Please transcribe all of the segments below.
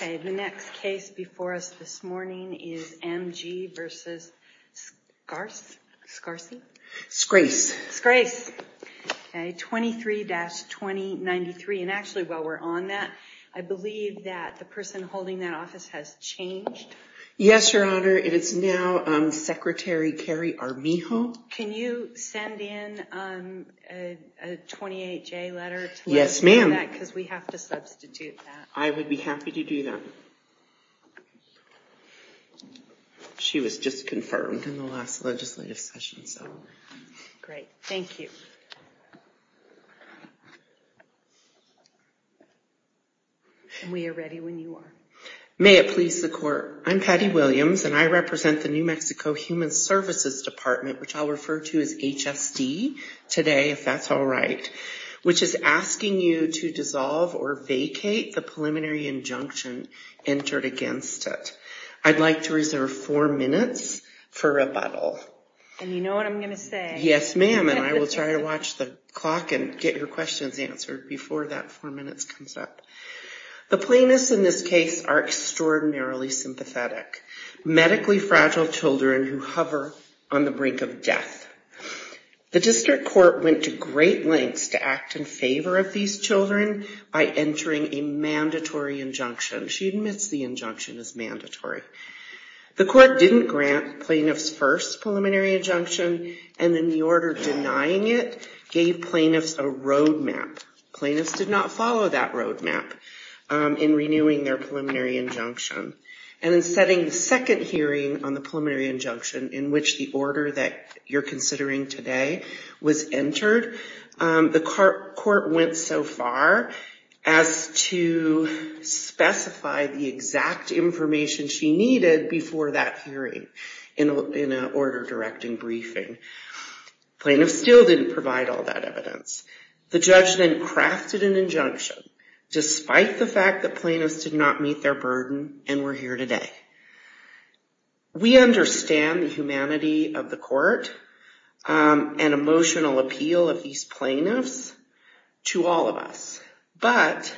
The next case before us this morning is M.G. v. Scrase, 23-2093, and actually while we're on that, I believe that the person holding that office has changed. Yes, Your Honor, it is now Secretary Kerry Armijo. Can you send in a 28-J letter to let us know that, because we have to substitute that. I would be happy to do that. She was just confirmed in the last legislative session, so. Great. Thank you. And we are ready when you are. May it please the Court, I'm Patty Williams, and I represent the New Mexico Human Services Department, which I'll refer to as HSD today, if that's all right, which is asking you to I'd like to reserve four minutes for rebuttal. And you know what I'm going to say. Yes, ma'am, and I will try to watch the clock and get your questions answered before that four minutes comes up. The plaintiffs in this case are extraordinarily sympathetic, medically fragile children who hover on the brink of death. The district court went to great lengths to act in favor of these children by entering a mandatory injunction. She admits the injunction is mandatory. The court didn't grant plaintiffs first preliminary injunction, and in the order denying it gave plaintiffs a roadmap. Plaintiffs did not follow that roadmap in renewing their preliminary injunction. And in setting the second hearing on the preliminary injunction, in which the order that you're to specify the exact information she needed before that hearing in an order directing briefing, plaintiffs still didn't provide all that evidence. The judge then crafted an injunction, despite the fact that plaintiffs did not meet their burden and were here today. We understand the humanity of the court and emotional appeal of these plaintiffs to all of us, but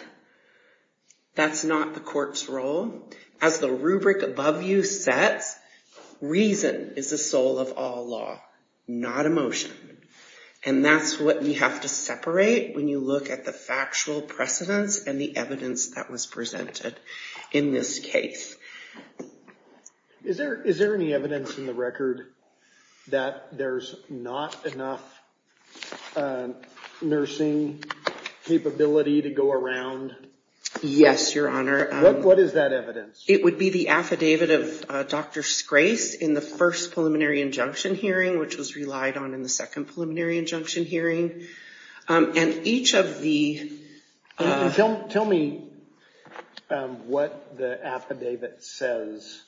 that's not the court's role. As the rubric above you says, reason is the soul of all law, not emotion. And that's what we have to separate when you look at the factual precedence and the evidence that was presented in this case. Is there any evidence in the record that there's not enough nursing capability to go around? Yes, Your Honor. What is that evidence? It would be the affidavit of Dr. Scrace in the first preliminary injunction hearing, which was relied on in the second preliminary injunction hearing. And each of the- Tell me what the affidavit says.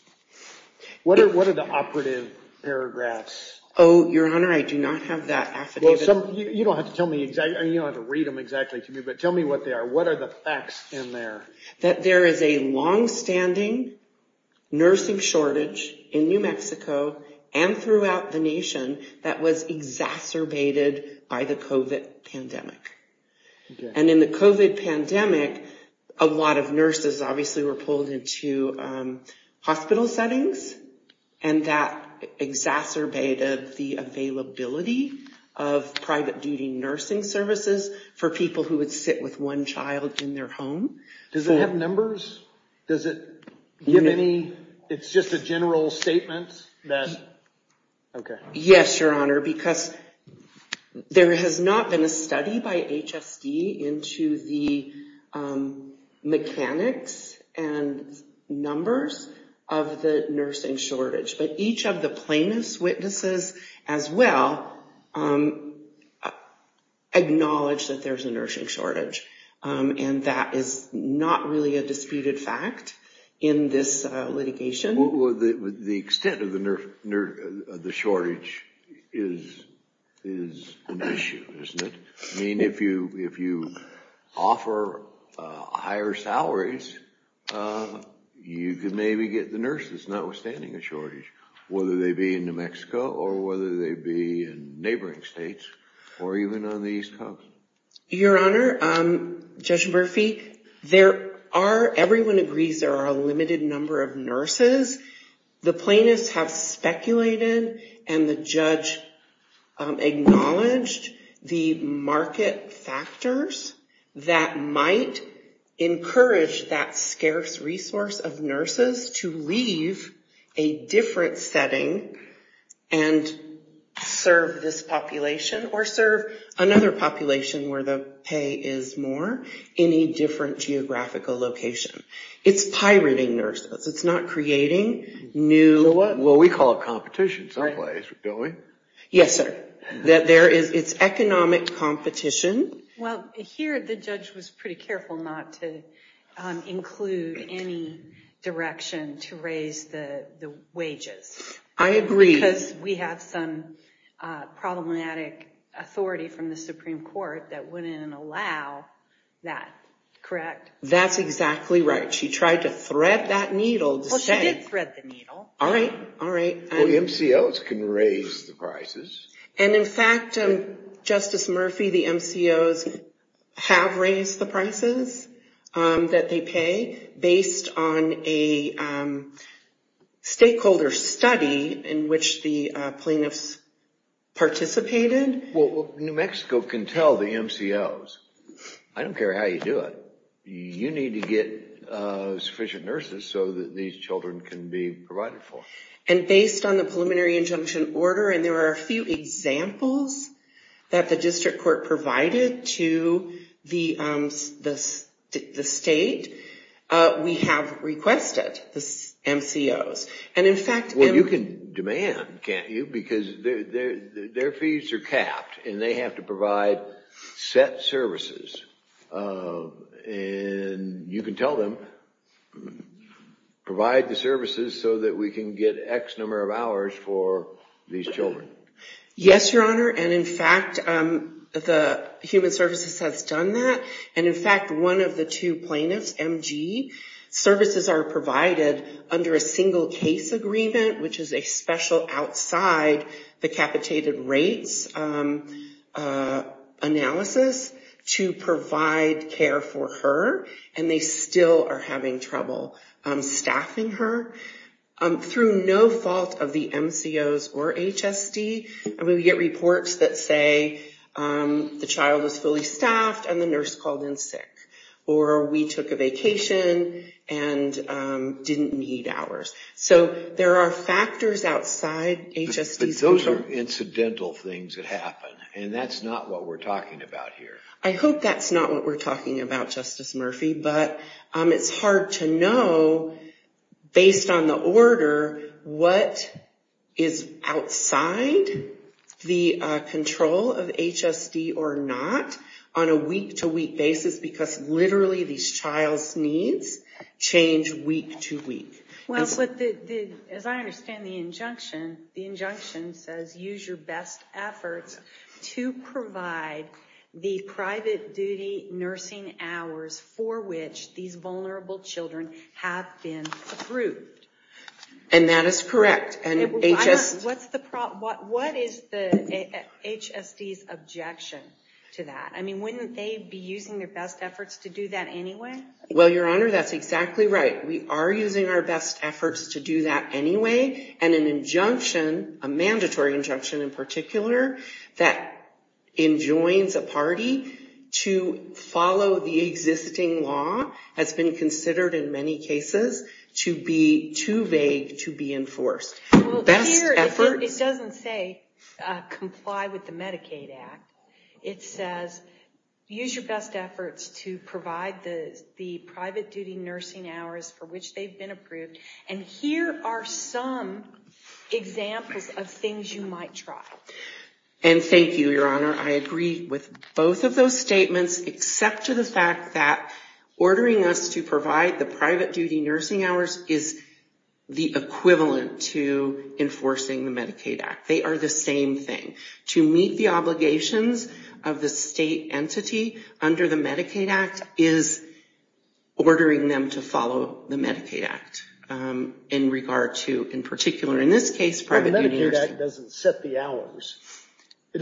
What are the operative paragraphs? Oh, Your Honor, I do not have that affidavit. You don't have to read them exactly to me, but tell me what they are. What are the facts in there? That there is a longstanding nursing shortage in New Mexico and throughout the nation that was exacerbated by the COVID pandemic. And in the COVID pandemic, a lot of nurses obviously were pulled into hospital settings and that exacerbated the availability of private duty nursing services for people who would sit with one child in their home. Does it have numbers? Does it give any... It's just a general statement that... Okay. Yes, Your Honor, because there has not been a study by HSD into the mechanics and numbers of the nursing shortage, but each of the plaintiff's witnesses as well acknowledged that there's a nursing shortage. And that is not really a disputed fact in this litigation. The extent of the shortage is an issue, isn't it? I mean, if you offer higher salaries, you could maybe get the nurses notwithstanding a shortage, whether they be in New Mexico or whether they be in neighboring states or even on the East Coast. Your Honor, Judge Murphy, there are... The plaintiffs have speculated and the judge acknowledged the market factors that might encourage that scarce resource of nurses to leave a different setting and serve this population or serve another population where the pay is more in a different geographical location. It's pirating nurses. It's not creating new... Well, we call it competition someplace, don't we? Yes, sir. That there is... It's economic competition. Well, here the judge was pretty careful not to include any direction to raise the wages. I agree. Because we have some problematic authority from the Supreme Court that wouldn't allow that, correct? That's exactly right. But she tried to thread that needle to say... Well, she did thread the needle. All right. All right. Well, MCOs can raise the prices. And in fact, Justice Murphy, the MCOs have raised the prices that they pay based on a stakeholder study in which the plaintiffs participated. Well, New Mexico can tell the MCOs, I don't care how you do it. You need to get sufficient nurses so that these children can be provided for. And based on the preliminary injunction order, and there are a few examples that the district court provided to the state, we have requested the MCOs. And in fact... Well, you can demand, can't you? Because their fees are capped, and they have to provide set services. And you can tell them, provide the services so that we can get X number of hours for these children. Yes, Your Honor. And in fact, the human services has done that. And in fact, one of the two plaintiffs, MG, services are provided under a single case agreement, which is a special outside the capitated rates analysis to provide care for her. And they still are having trouble staffing her. Through no fault of the MCOs or HSD, we get reports that say, the child was fully staffed and the nurse called in sick. Or we took a vacation and didn't need hours. So there are factors outside HSD's control. But those are incidental things that happen, and that's not what we're talking about here. I hope that's not what we're talking about, Justice Murphy, but it's hard to know, based on the order, what is outside the control of HSD or not, on a week-to-week basis. Because literally, these child's needs change week-to-week. Well, as I understand the injunction, the injunction says, use your best efforts to provide the private duty nursing hours for which these vulnerable children have been approved. And that is correct. What is the HSD's objection to that? I mean, wouldn't they be using their best efforts to do that anyway? Well, Your Honor, that's exactly right. We are using our best efforts to do that anyway, and an injunction, a mandatory injunction in particular, that enjoins a party to follow the existing law, has been considered in many cases to be too vague to be enforced. Well, here, it doesn't say, comply with the Medicaid Act. It says, use your best efforts to provide the private duty nursing hours for which they've been approved, and here are some examples of things you might try. And thank you, Your Honor. I agree with both of those statements, except to the fact that ordering us to provide the private duty nursing hours is the equivalent to enforcing the Medicaid Act. They are the same thing. To meet the obligations of the state entity under the Medicaid Act is ordering them to follow the Medicaid Act in regard to, in particular, in this case, private duty nursing. Well, the Medicaid Act doesn't set the hours. It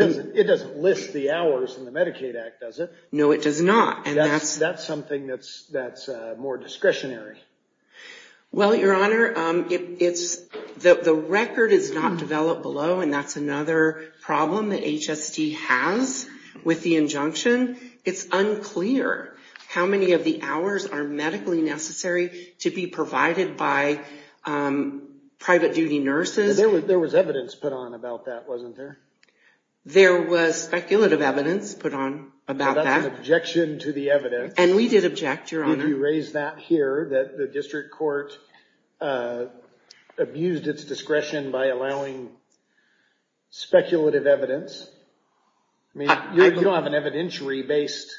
doesn't list the hours in the Medicaid Act, does it? No, it does not. And that's something that's more discretionary. Well, Your Honor, the record is not developed below, and that's another problem that HST has with the injunction. It's unclear how many of the hours are medically necessary to be provided by private duty nurses. There was evidence put on about that, wasn't there? There was speculative evidence put on about that. Well, that's an objection to the evidence. And we did object, Your Honor. Would you raise that here, that the district court abused its discretion by allowing speculative evidence? I mean, you don't have an evidentiary-based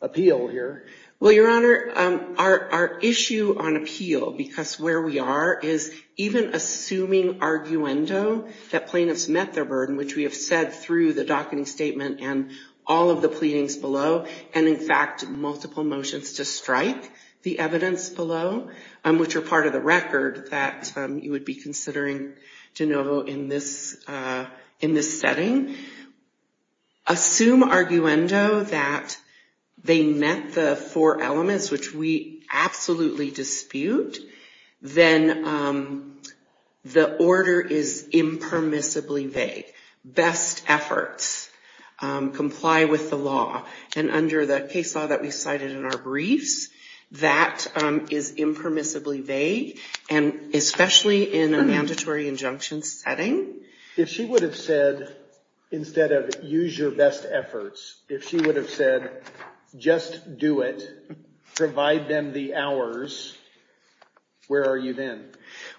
appeal here. Well, Your Honor, our issue on appeal, because where we are, is even assuming arguendo that plaintiffs met their burden, which we have said through the docketing statement and all of the pleadings below, and in fact, multiple motions to strike the evidence below, which are part of the record that you would be considering, De Novo, in this setting. Assume arguendo that they met the four elements, which we absolutely dispute, then the order is impermissibly vague. Best efforts comply with the law. And under the case law that we cited in our briefs, that is impermissibly vague, and especially in a mandatory injunction setting. If she would have said, instead of, use your best efforts, if she would have said, just do it, provide them the hours, where are you then?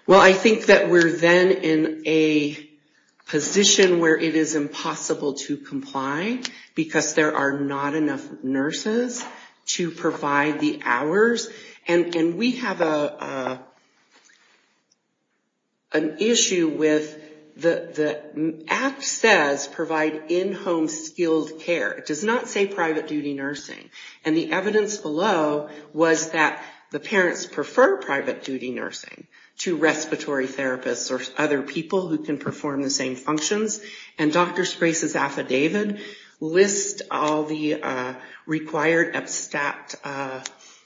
Well, I think that we're then in a position where it is impossible to comply, because there are not enough nurses to provide the hours. And we have an issue with, the act says, provide in-home skilled care. It does not say private duty nursing. And the evidence below was that the parents prefer private duty nursing to respiratory therapists or other people who can perform the same functions. And Dr. Sprace's affidavit lists all the required abstract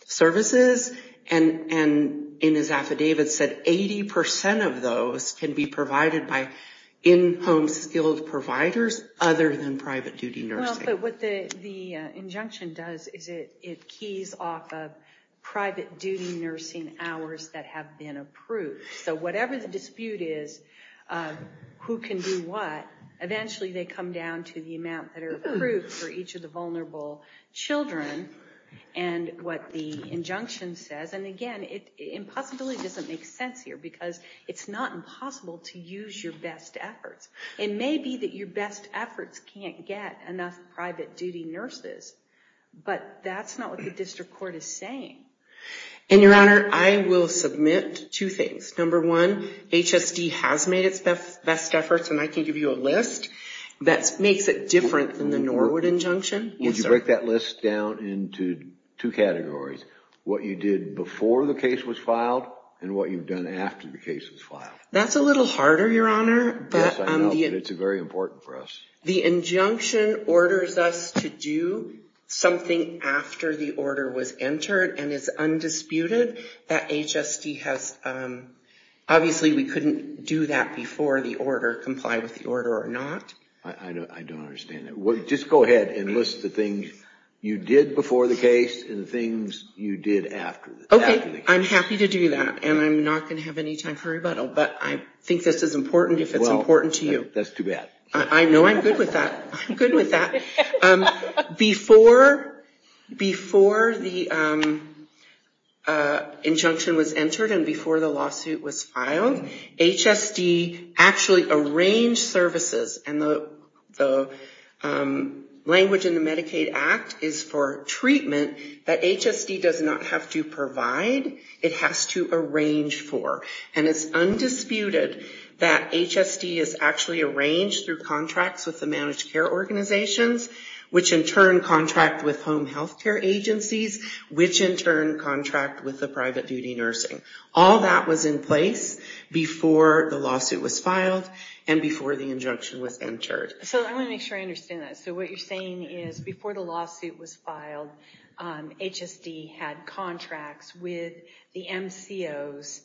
services, and in his affidavit said 80% of those can be provided by in-home skilled providers other than private duty nursing. But what the injunction does is it keys off of private duty nursing hours that have been approved. So whatever the dispute is, who can do what, eventually they come down to the amount that are approved for each of the vulnerable children, and what the injunction says. And again, impossibility doesn't make sense here, because it's not impossible to use your best efforts. It may be that your best efforts can't get enough private duty nurses, but that's not what the district court is saying. And your honor, I will submit two things. Number one, HSD has made its best efforts, and I can give you a list that makes it different than the Norwood injunction. Would you break that list down into two categories? What you did before the case was filed, and what you've done after the case was filed. That's a little harder, your honor. Yes, I know, but it's very important for us. The injunction orders us to do something after the order was entered, and it's undisputed that HSD has... Obviously we couldn't do that before the order, comply with the order or not. I don't understand that. Just go ahead and list the things you did before the case, and the things you did after the case. Okay, I'm happy to do that, and I'm not going to have any time for rebuttal, but I think this is important if it's important to you. That's too bad. I know I'm good with that. I'm good with that. Before the injunction was entered and before the lawsuit was filed, HSD actually arranged services and the language in the Medicaid Act is for treatment that HSD does not have to provide. It has to arrange for, and it's undisputed that HSD is actually arranged through contracts with the managed care organizations, which in turn contract with home health care agencies, which in turn contract with the private duty nursing. All that was in place before the lawsuit was filed and before the injunction was entered. I want to make sure I understand that. So what you're saying is before the lawsuit was filed, HSD had contracts with the MCOs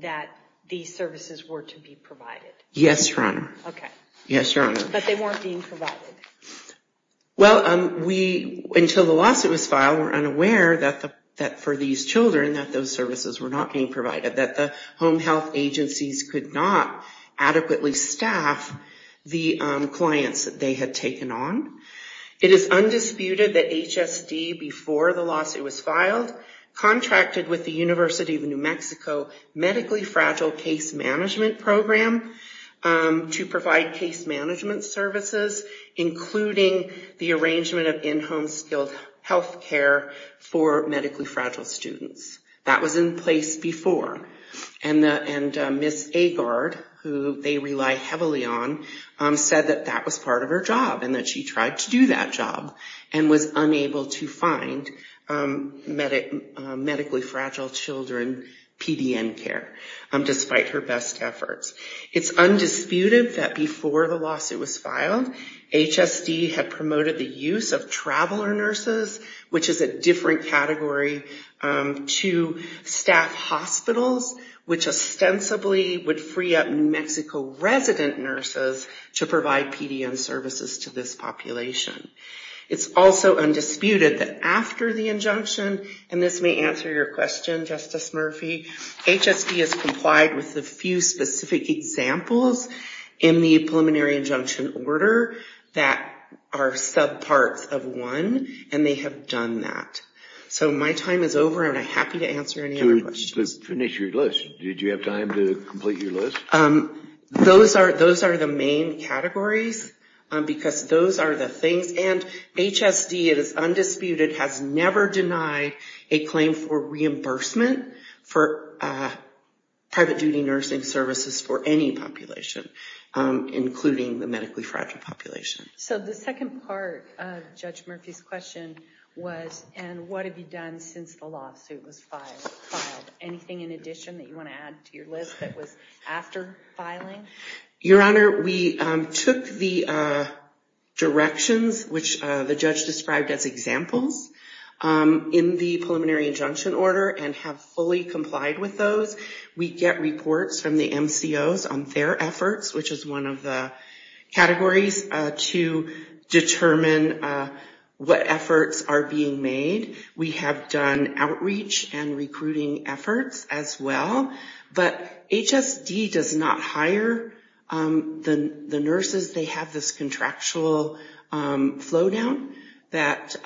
that these services were to be provided? Yes, Your Honor. Okay. Yes, Your Honor. But they weren't being provided? Well, until the lawsuit was filed, we're unaware that for these children that those services were not being provided, that the home health agencies could not adequately staff the clients that they had taken on. It is undisputed that HSD, before the lawsuit was filed, contracted with the University of New Mexico Medically Fragile Case Management Program to provide case management services, including the arrangement of in-home skilled health care for medically fragile students. That was in place before. And Ms. Agard, who they rely heavily on, said that that was part of her job and that she tried to do that job and was unable to find medically fragile children PDN care, despite her best efforts. It's undisputed that before the lawsuit was filed, HSD had promoted the use of traveler to staff hospitals, which ostensibly would free up New Mexico resident nurses to provide PDN services to this population. It's also undisputed that after the injunction, and this may answer your question, Justice Murphy, HSD has complied with a few specific examples in the preliminary injunction order that are subparts of one, and they have done that. So my time is over, and I'm happy to answer any other questions. To finish your list, did you have time to complete your list? Those are the main categories, because those are the things, and HSD, it is undisputed, has never denied a claim for reimbursement for private duty nursing services for any population, including the medically fragile population. So the second part of Judge Murphy's question was, and what have you done since the lawsuit was filed? Anything in addition that you want to add to your list that was after filing? Your Honor, we took the directions, which the judge described as examples, in the preliminary injunction order and have fully complied with those. We get reports from the MCOs on their efforts, which is one of the categories, to determine what efforts are being made. We have done outreach and recruiting efforts as well, but HSD does not hire the nurses. They have this contractual flow down that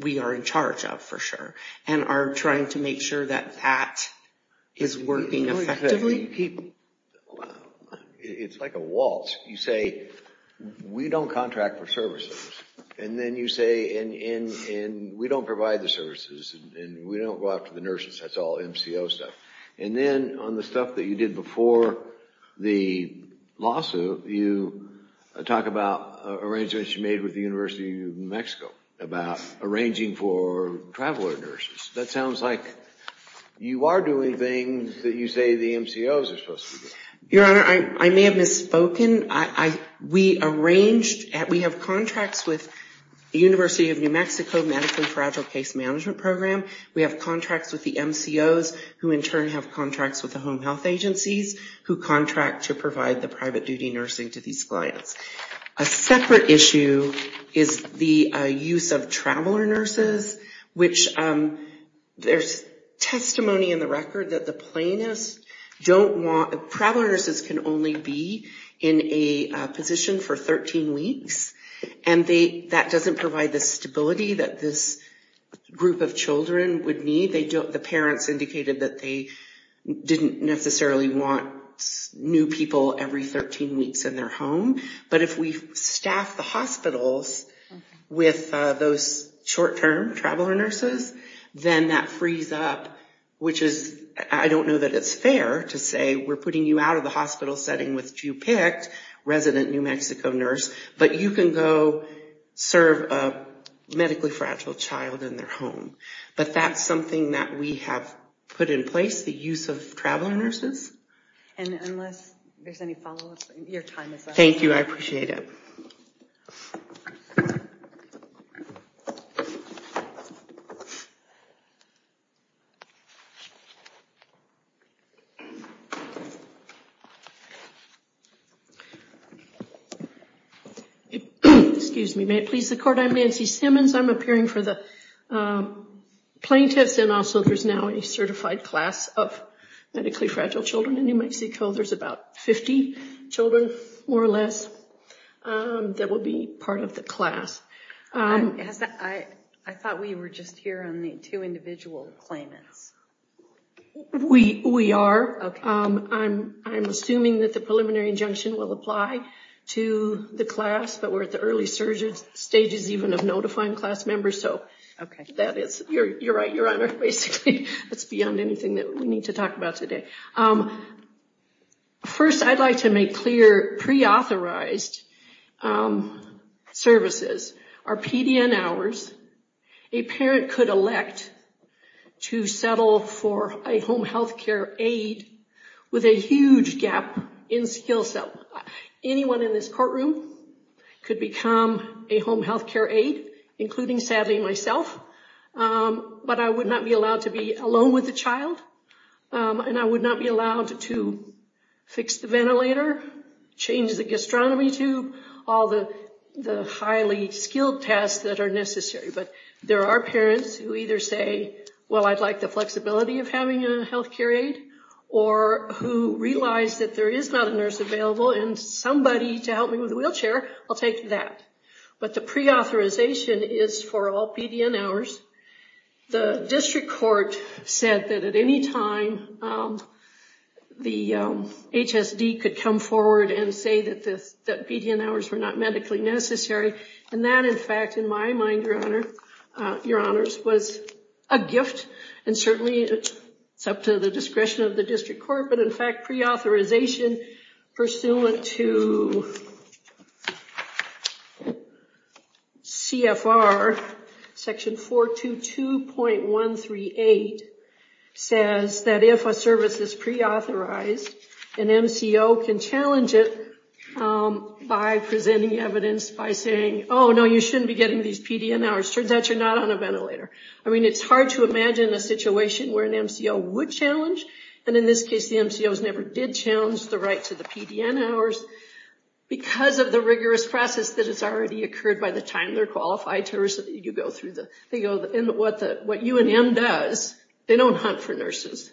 we are in charge of, for sure, and are trying to make sure that that is working effectively. It's like a waltz. You say, we don't contract for services, and then you say, and we don't provide the services, and we don't go after the nurses, that's all MCO stuff. And then on the stuff that you did before the lawsuit, you talk about arrangements you made with the University of New Mexico, about arranging for traveler nurses. That sounds like you are doing things that you say the MCOs are supposed to be doing. Your Honor, I may have misspoken. We arranged, we have contracts with the University of New Mexico, Medical and Fragile Case Management Program. We have contracts with the MCOs, who in turn have contracts with the home health agencies, who contract to provide the private duty nursing to these clients. A separate issue is the use of traveler nurses, which there's testimony in the record that the plaintiffs don't want, traveler nurses can only be in a position for 13 weeks, and that doesn't provide the stability that this group of children would need. The parents indicated that they didn't necessarily want new people every 13 weeks in their home, but if we staff the hospitals with those short-term traveler nurses, then that frees up, which is, I don't know that it's fair to say we're putting you out of the hospital setting with you picked resident New Mexico nurse, but you can go serve a medically fragile child in their home. But that's something that we have put in place, the use of traveler nurses. And unless there's any follow-up, your time is up. Thank you, I appreciate it. Excuse me, may it please the court, I'm Nancy Simmons, I'm appearing for the plaintiffs, and also there's now a certified class of medically fragile children in New Mexico. There's about 50 children, more or less, that will be part of the class. I thought we were just here on the two individual claimants. We are. I'm assuming that the preliminary injunction will apply to the class, but we're at the early stages even of notifying class members, so that is, you're right, your honor, basically that's beyond anything that we need to talk about today. First, I'd like to make clear, pre-authorized services are PDN hours a parent could elect to settle for a home health care aid with a huge gap in skill set. Anyone in this courtroom could become a home health care aid, including, sadly, myself, but I would not be allowed to be alone with the child, and I would not be allowed to fix the ventilator, change the gastronomy tube, all the highly skilled tasks that are necessary, but there are parents who either say, well, I'd like the flexibility of having a health care aid, or who realize that there is not a nurse available and somebody to help me with a wheelchair, I'll take that. But the pre-authorization is for all PDN hours. The district court said that at any time the HSD could come forward and say that PDN hours were not medically necessary, and that, in fact, in my mind, your honors, was a gift, and certainly it's up to the discretion of the district court, but in fact, pre-authorization pursuant to CFR section 422.138 says that if a service is pre-authorized, an MCO can challenge it by presenting evidence by saying, oh, no, you shouldn't be getting these PDN hours, turns out you're not on a ventilator. I mean, it's hard to imagine a situation where an MCO would challenge, and in this case, the MCOs never did challenge the right to the PDN hours because of the rigorous process that has already occurred by the time they're qualified to receive, you go through the, they go, and what the, what UNM does, they don't hunt for nurses,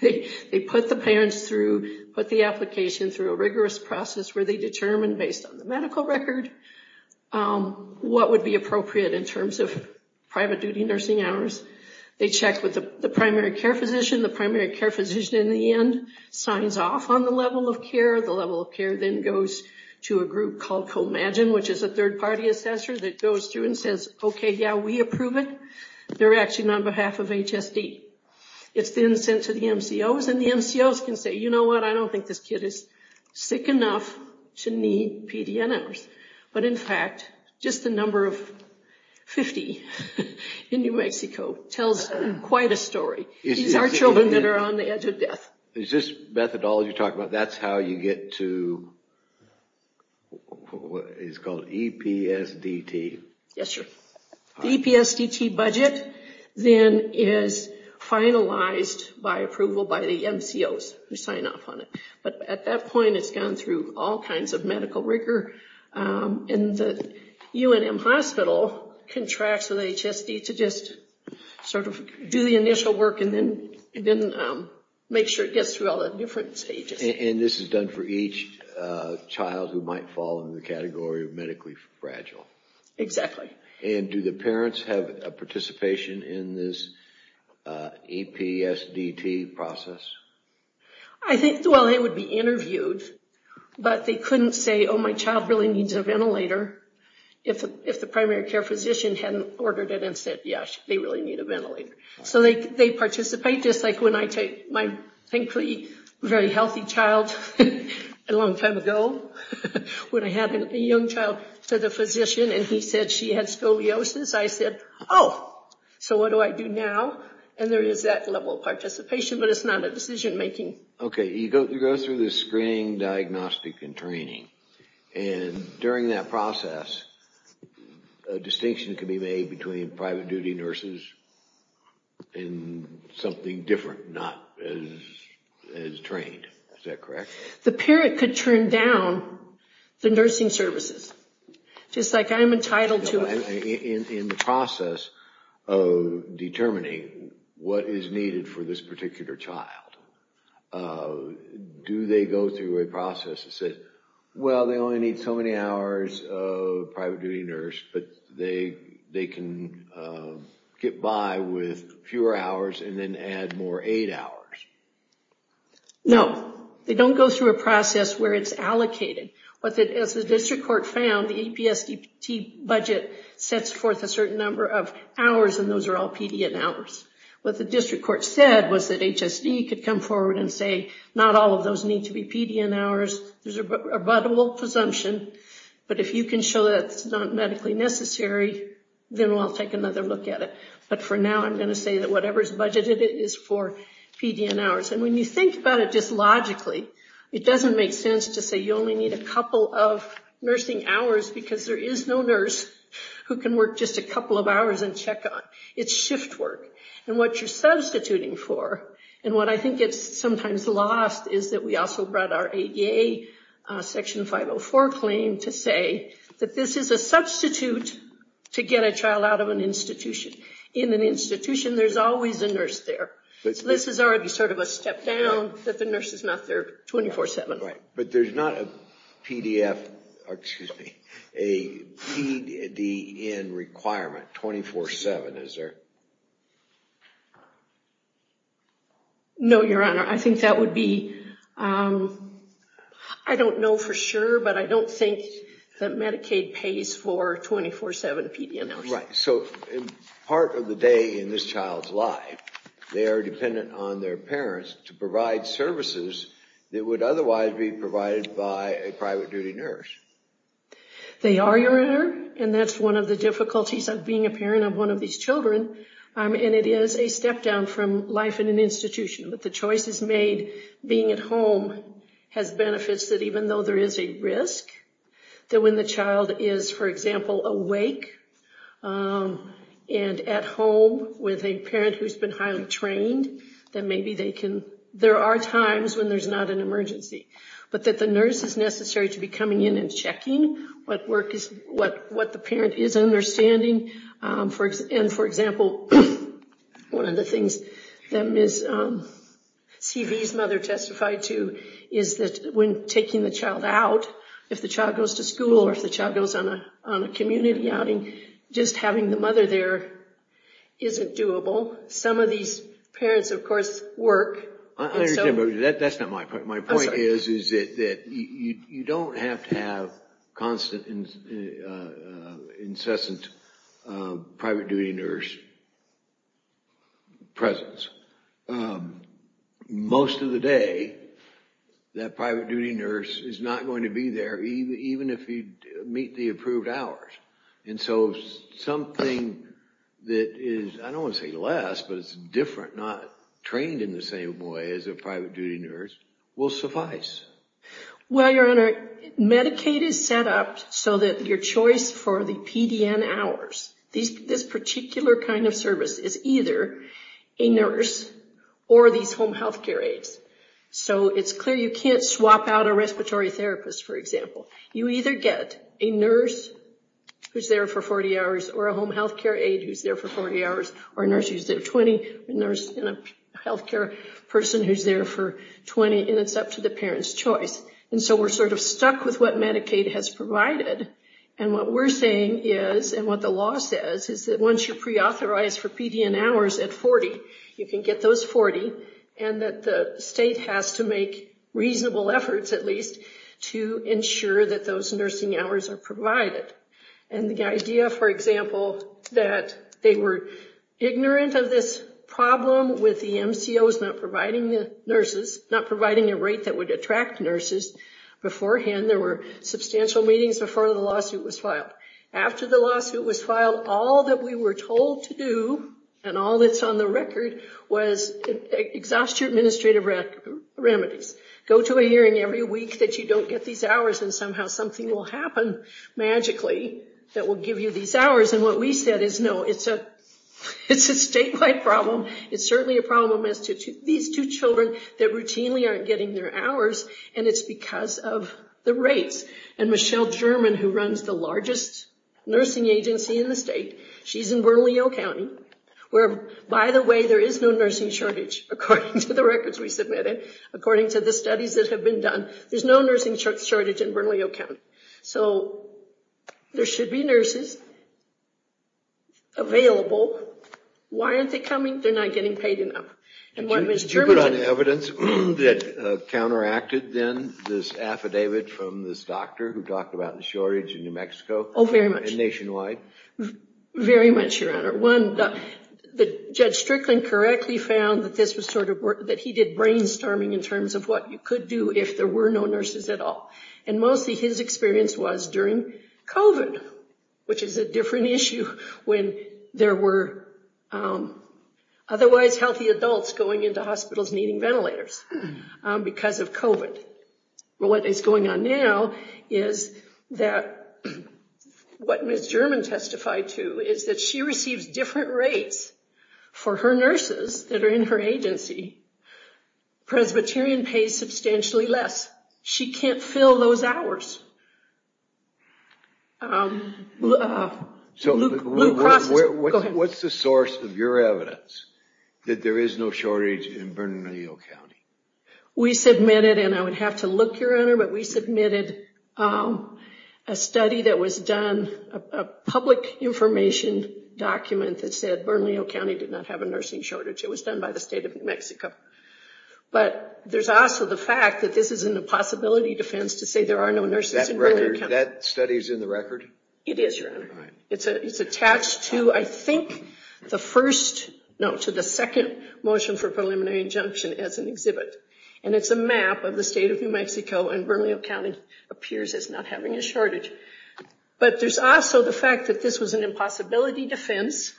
they put the parents through, put the application through a rigorous process where they determine based on the medical record what would be appropriate in terms of private duty nursing hours. They check with the primary care physician, the primary care physician in the end signs off on the level of care, the level of care then goes to a group called Comagine, which is a third-party assessor that goes through and says, okay, yeah, we approve it, they're actually on behalf of HSD. It's then sent to the MCOs, and the MCOs can say, you know what, I don't think this kid is sick enough to need PDN hours, but in fact, just the number of 50 in New Mexico tells quite a story. These are children that are on the edge of death. Is this methodology you're talking about, that's how you get to, it's called EPSDT? Yes, sir. The EPSDT budget then is finalized by approval by the MCOs who sign off on it, but at that point it's gone through all kinds of medical rigor, and the UNM hospital contracts with HSD to just sort of do the initial work and then make sure it gets through all the different stages. And this is done for each child who might fall into the category of medically fragile? Exactly. And do the parents have a participation in this EPSDT process? Well, they would be interviewed, but they couldn't say, oh, my child really needs a ventilator, if the primary care physician hadn't ordered it and said, yes, they really need a ventilator. So they participate, just like when I take my, thankfully, very healthy child, a long I said, oh, so what do I do now? And there is that level of participation, but it's not a decision making. Okay, you go through the screening, diagnostic, and training, and during that process, a distinction can be made between private duty nurses and something different, not as trained. Is that correct? The parent could turn down the nursing services, just like I'm entitled to it. In the process of determining what is needed for this particular child, do they go through a process that says, well, they only need so many hours of private duty nurse, but they can get by with fewer hours and then add more aid hours? No, they don't go through a process where it's allocated. As the district court found, the APSDT budget sets forth a certain number of hours, and those are all PDN hours. What the district court said was that HSD could come forward and say, not all of those need to be PDN hours. There's a rebuttable presumption, but if you can show that it's not medically necessary, then we'll take another look at it. For now, I'm going to say that whatever is budgeted is for PDN hours. When you think about it just logically, it doesn't make sense to say you only need a couple of nursing hours because there is no nurse who can work just a couple of hours and check on. It's shift work. What you're substituting for, and what I think is sometimes lost, is that we also brought our ADA Section 504 claim to say that this is a substitute to get a child out of an institution. In an institution, there's always a nurse there. This is already sort of a step down that the nurse is not there 24-7. But there's not a PDN requirement 24-7, is there? No, Your Honor. I think that would be, I don't know for sure, but I don't think that Medicaid pays for 24-7 PDN hours. Right. So part of the day in this child's life, they are dependent on their parents to provide services that would otherwise be provided by a private duty nurse. They are, Your Honor. And that's one of the difficulties of being a parent of one of these children. And it is a step down from life in an institution. But the choices made being at home has benefits that even though there is a risk, that when the child is, for example, awake and at home with a parent who's been highly trained, that maybe they can, there are times when there's not an emergency. But that the nurse is necessary to be coming in and checking what the parent is understanding. And for example, one of the things that Ms. Seavey's mother testified to is that when taking the child out, if the child goes to school or if the child goes on a community outing, just having the mother there isn't doable. Some of these parents, of course, work. I understand, but that's not my point. My point is that you don't have to have constant, incessant private duty nurse presence. Most of the day, that private duty nurse is not going to be there even if you meet the approved hours. And so something that is, I don't want to say less, but it's different, not trained in the same way as a private duty nurse, will suffice. Well, Your Honor, Medicaid is set up so that your choice for the PDN hours, this particular kind of service is either a nurse or these home health care aides. So it's clear you can't swap out a respiratory therapist, for example. You either get a nurse who's there for 40 hours or a home health care aide who's there for 40 hours or a nurse who's there 20, a nurse and a health care person who's there for 20, and it's up to the parent's choice. And so we're sort of stuck with what Medicaid has provided. And what we're saying is, and what the law says, is that once you're preauthorized for PDN hours at 40, you can get those 40, and that the state has to make reasonable efforts, at least, to ensure that those nursing hours are provided. And the idea, for example, that they were ignorant of this problem with the MCOs not providing the nurses, not providing a rate that would attract nurses beforehand. There were substantial meetings before the lawsuit was filed. After the lawsuit was filed, all that we were told to do, and all that's on the record, was exhaust your administrative remedies. Go to a hearing every week that you don't get these hours, and somehow something will happen magically that will give you these hours. And what we said is, no, it's a statewide problem. It's certainly a problem as to these two children that routinely aren't getting their hours, and it's because of the rates. And Michelle German, who runs the largest nursing agency in the state, she's in Bernalillo County, where, by the way, there is no nursing shortage, according to the records we submitted, according to the studies that have been done. There's no nursing shortage in Bernalillo County. So there should be nurses available. Why aren't they coming? They're not getting paid enough. Did you put on evidence that counteracted, then, this affidavit from this doctor who talked about the shortage in New Mexico and nationwide? Oh, very much. Very much, Your Honor. One, Judge Strickland correctly found that he did brainstorming in terms of what you could do if there were no nurses at all. And mostly his experience was during COVID, which is a different issue when there were otherwise healthy adults going into hospitals needing ventilators because of COVID. What is going on now is that what Ms. German testified to is that she receives different rates for her nurses that are in her agency. Presbyterian pays substantially less. She can't fill those hours. What's the source of your evidence that there is no shortage in Bernalillo County? We submitted, and I would have to look, Your Honor, but we submitted a study that was done, a public information document that said Bernalillo County did not have a nursing shortage. It was done by the state of New Mexico. But there's also the fact that this is an impossibility defense to say there are no nurses in Bernalillo County. That study is in the record? It is, Your Honor. It's attached to, I think, the second motion for preliminary injunction as an exhibit. And it's a map of the state of New Mexico, and Bernalillo County appears as not having a shortage. But there's also the fact that this was an impossibility defense,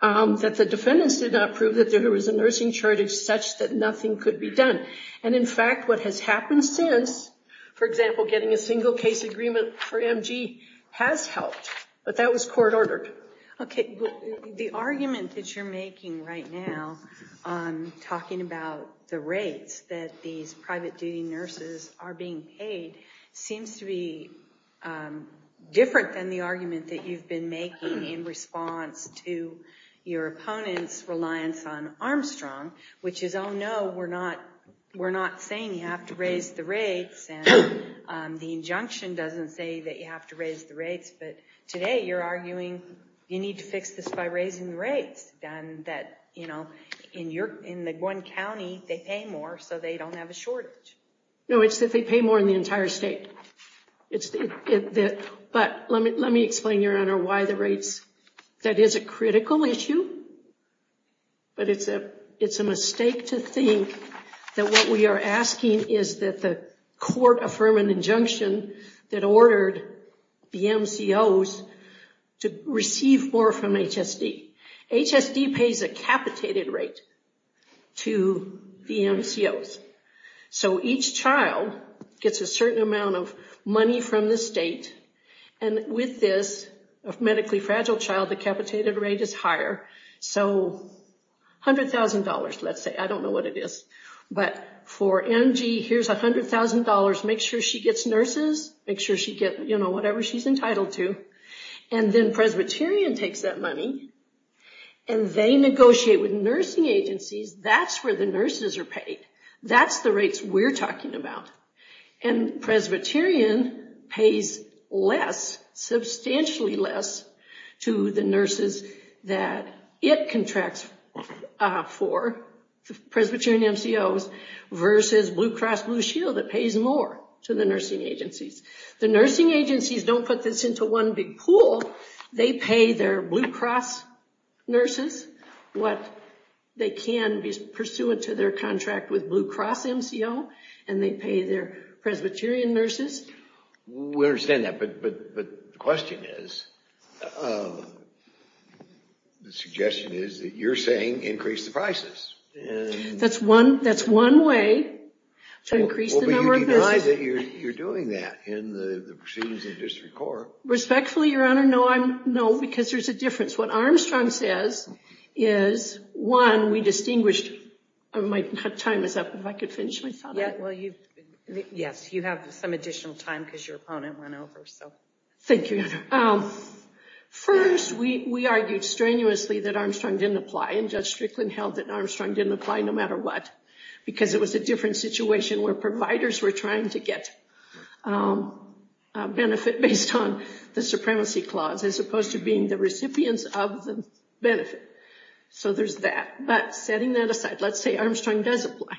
that the defendants did not prove that there was a nursing shortage such that nothing could be done. And, in fact, what has happened since, for example, getting a single-case agreement for MG has helped, but that was court-ordered. Okay. The argument that you're making right now on talking about the rates that these private-duty nurses are being paid seems to be different than the argument that you've been making in response to your opponent's reliance on Armstrong, which is, oh, no, we're not saying you have to raise the rates, and the injunction doesn't say that you have to raise the rates. But today you're arguing you need to fix this by raising the rates, and that in one county they pay more so they don't have a shortage. No, it's that they pay more in the entire state. But let me explain, Your Honor, why the rates. That is a critical issue, but it's a mistake to think that what we are asking is that the court affirm an injunction that ordered the MCOs to receive more from HSD. HSD pays a capitated rate to the MCOs. So each child gets a certain amount of money from the state, and with this, a medically fragile child, the capitated rate is higher. So $100,000, let's say. I don't know what it is. But for Angie, here's $100,000. Make sure she gets nurses. Make sure she gets, you know, whatever she's entitled to. And then Presbyterian takes that money, and they negotiate with nursing agencies. That's where the nurses are paid. That's the rates we're talking about. And Presbyterian pays less, substantially less, to the nurses that it contracts for, the Presbyterian MCOs, versus Blue Cross Blue Shield that pays more to the nursing agencies. The nursing agencies don't put this into one big pool. They pay their Blue Cross nurses what they can, pursuant to their contract with Blue Cross MCO, and they pay their Presbyterian nurses. We understand that, but the question is, the suggestion is that you're saying increase the prices. That's one way to increase the number of nurses. Well, but you deny that you're doing that in the proceedings of district court. Respectfully, Your Honor, no, because there's a difference. What Armstrong says is, one, we distinguished, my time is up, if I could finish my thought on it. Yes, you have some additional time because your opponent went over. Thank you, Your Honor. First, we argued strenuously that Armstrong didn't apply, and Judge Strickland held that Armstrong didn't apply no matter what, because it was a different situation where providers were trying to get a benefit based on the supremacy clause, as opposed to being the recipients of the benefit. So there's that. But setting that aside, let's say Armstrong does apply.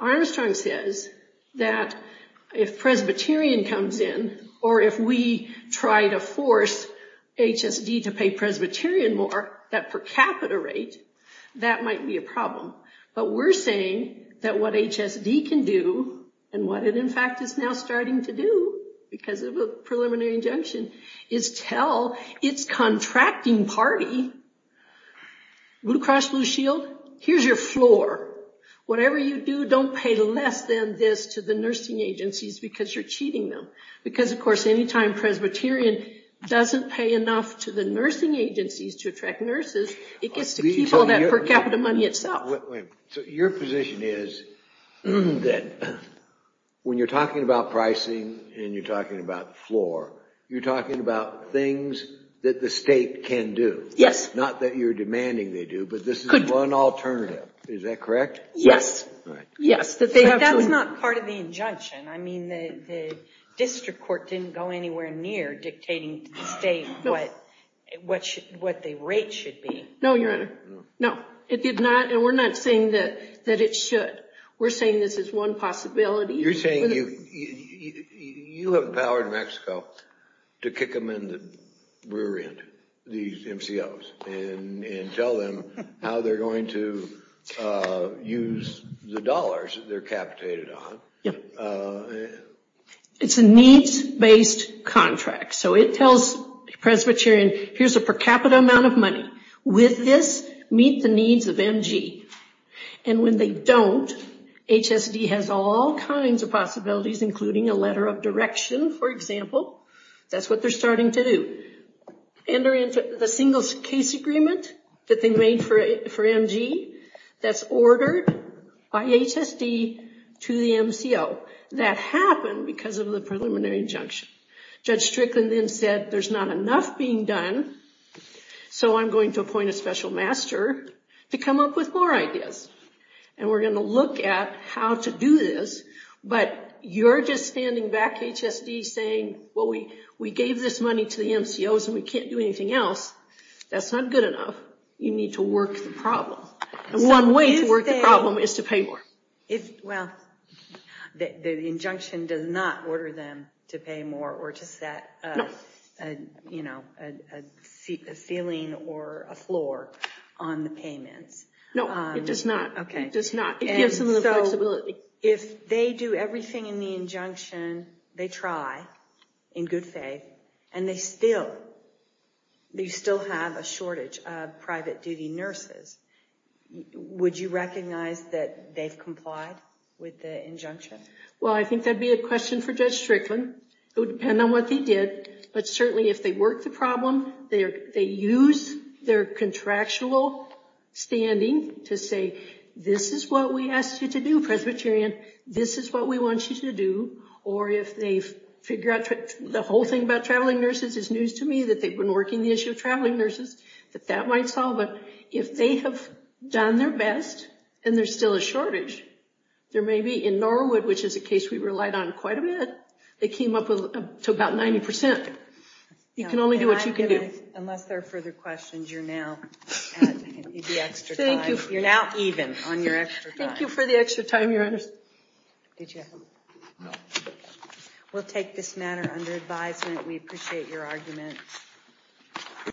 Armstrong says that if Presbyterian comes in, or if we try to force HSD to pay Presbyterian more, that per capita rate, that might be a problem. But we're saying that what HSD can do, and what it in fact is now starting to do because of a preliminary injunction, is tell its contracting party, Blue Cross Blue Shield, here's your floor. Whatever you do, don't pay less than this to the nursing agencies because you're cheating them. Because, of course, any time Presbyterian doesn't pay enough to the nursing agencies to attract nurses, it gets to keep all that per capita money itself. So your position is that when you're talking about pricing and you're talking about floor, you're talking about things that the state can do. Yes. Not that you're demanding they do, but this is one alternative. Is that correct? Yes. That's not part of the injunction. I mean, the district court didn't go anywhere near dictating to the state what the rate should be. No, Your Honor. No. It did not, and we're not saying that it should. We're saying this is one possibility. You're saying you have empowered Mexico to kick them in the rear end, these MCOs, and tell them how they're going to use the dollars that they're capitated on. It's a needs-based contract. So it tells Presbyterian, here's a per capita amount of money. With this, meet the needs of MG. And when they don't, HSD has all kinds of possibilities, including a letter of direction, for example. That's what they're starting to do. Enter into the single case agreement that they made for MG that's ordered by HSD to the MCO. That happened because of the preliminary injunction. Judge Strickland then said there's not enough being done, so I'm going to appoint a special master to come up with more ideas. And we're going to look at how to do this, but you're just standing back, HSD, saying, well, we gave this money to the MCOs and we can't do anything else. That's not good enough. You need to work the problem. And one way to work the problem is to pay more. Well, the injunction does not order them to pay more or to set a ceiling or a floor on the payments. No, it does not. It gives them the flexibility. If they do everything in the injunction, they try, in good faith, and they still have a shortage of private duty nurses, would you recognize that they've complied with the injunction? Well, I think that would be a question for Judge Strickland. It would depend on what they did. But certainly if they work the problem, they use their contractual standing to say, this is what we asked you to do, Presbyterian. This is what we want you to do. Or if they figure out the whole thing about traveling nurses is news to me that they've been working the issue of traveling nurses, that that might solve it. If they have done their best and there's still a shortage, there may be in Norwood, which is a case we relied on quite a bit, they came up to about 90%. You can only do what you can do. Unless there are further questions, you're now at the extra time. You're now even on your extra time. Thank you for the extra time, Your Honor. Good job. We'll take this matter under advisement. We appreciate your argument.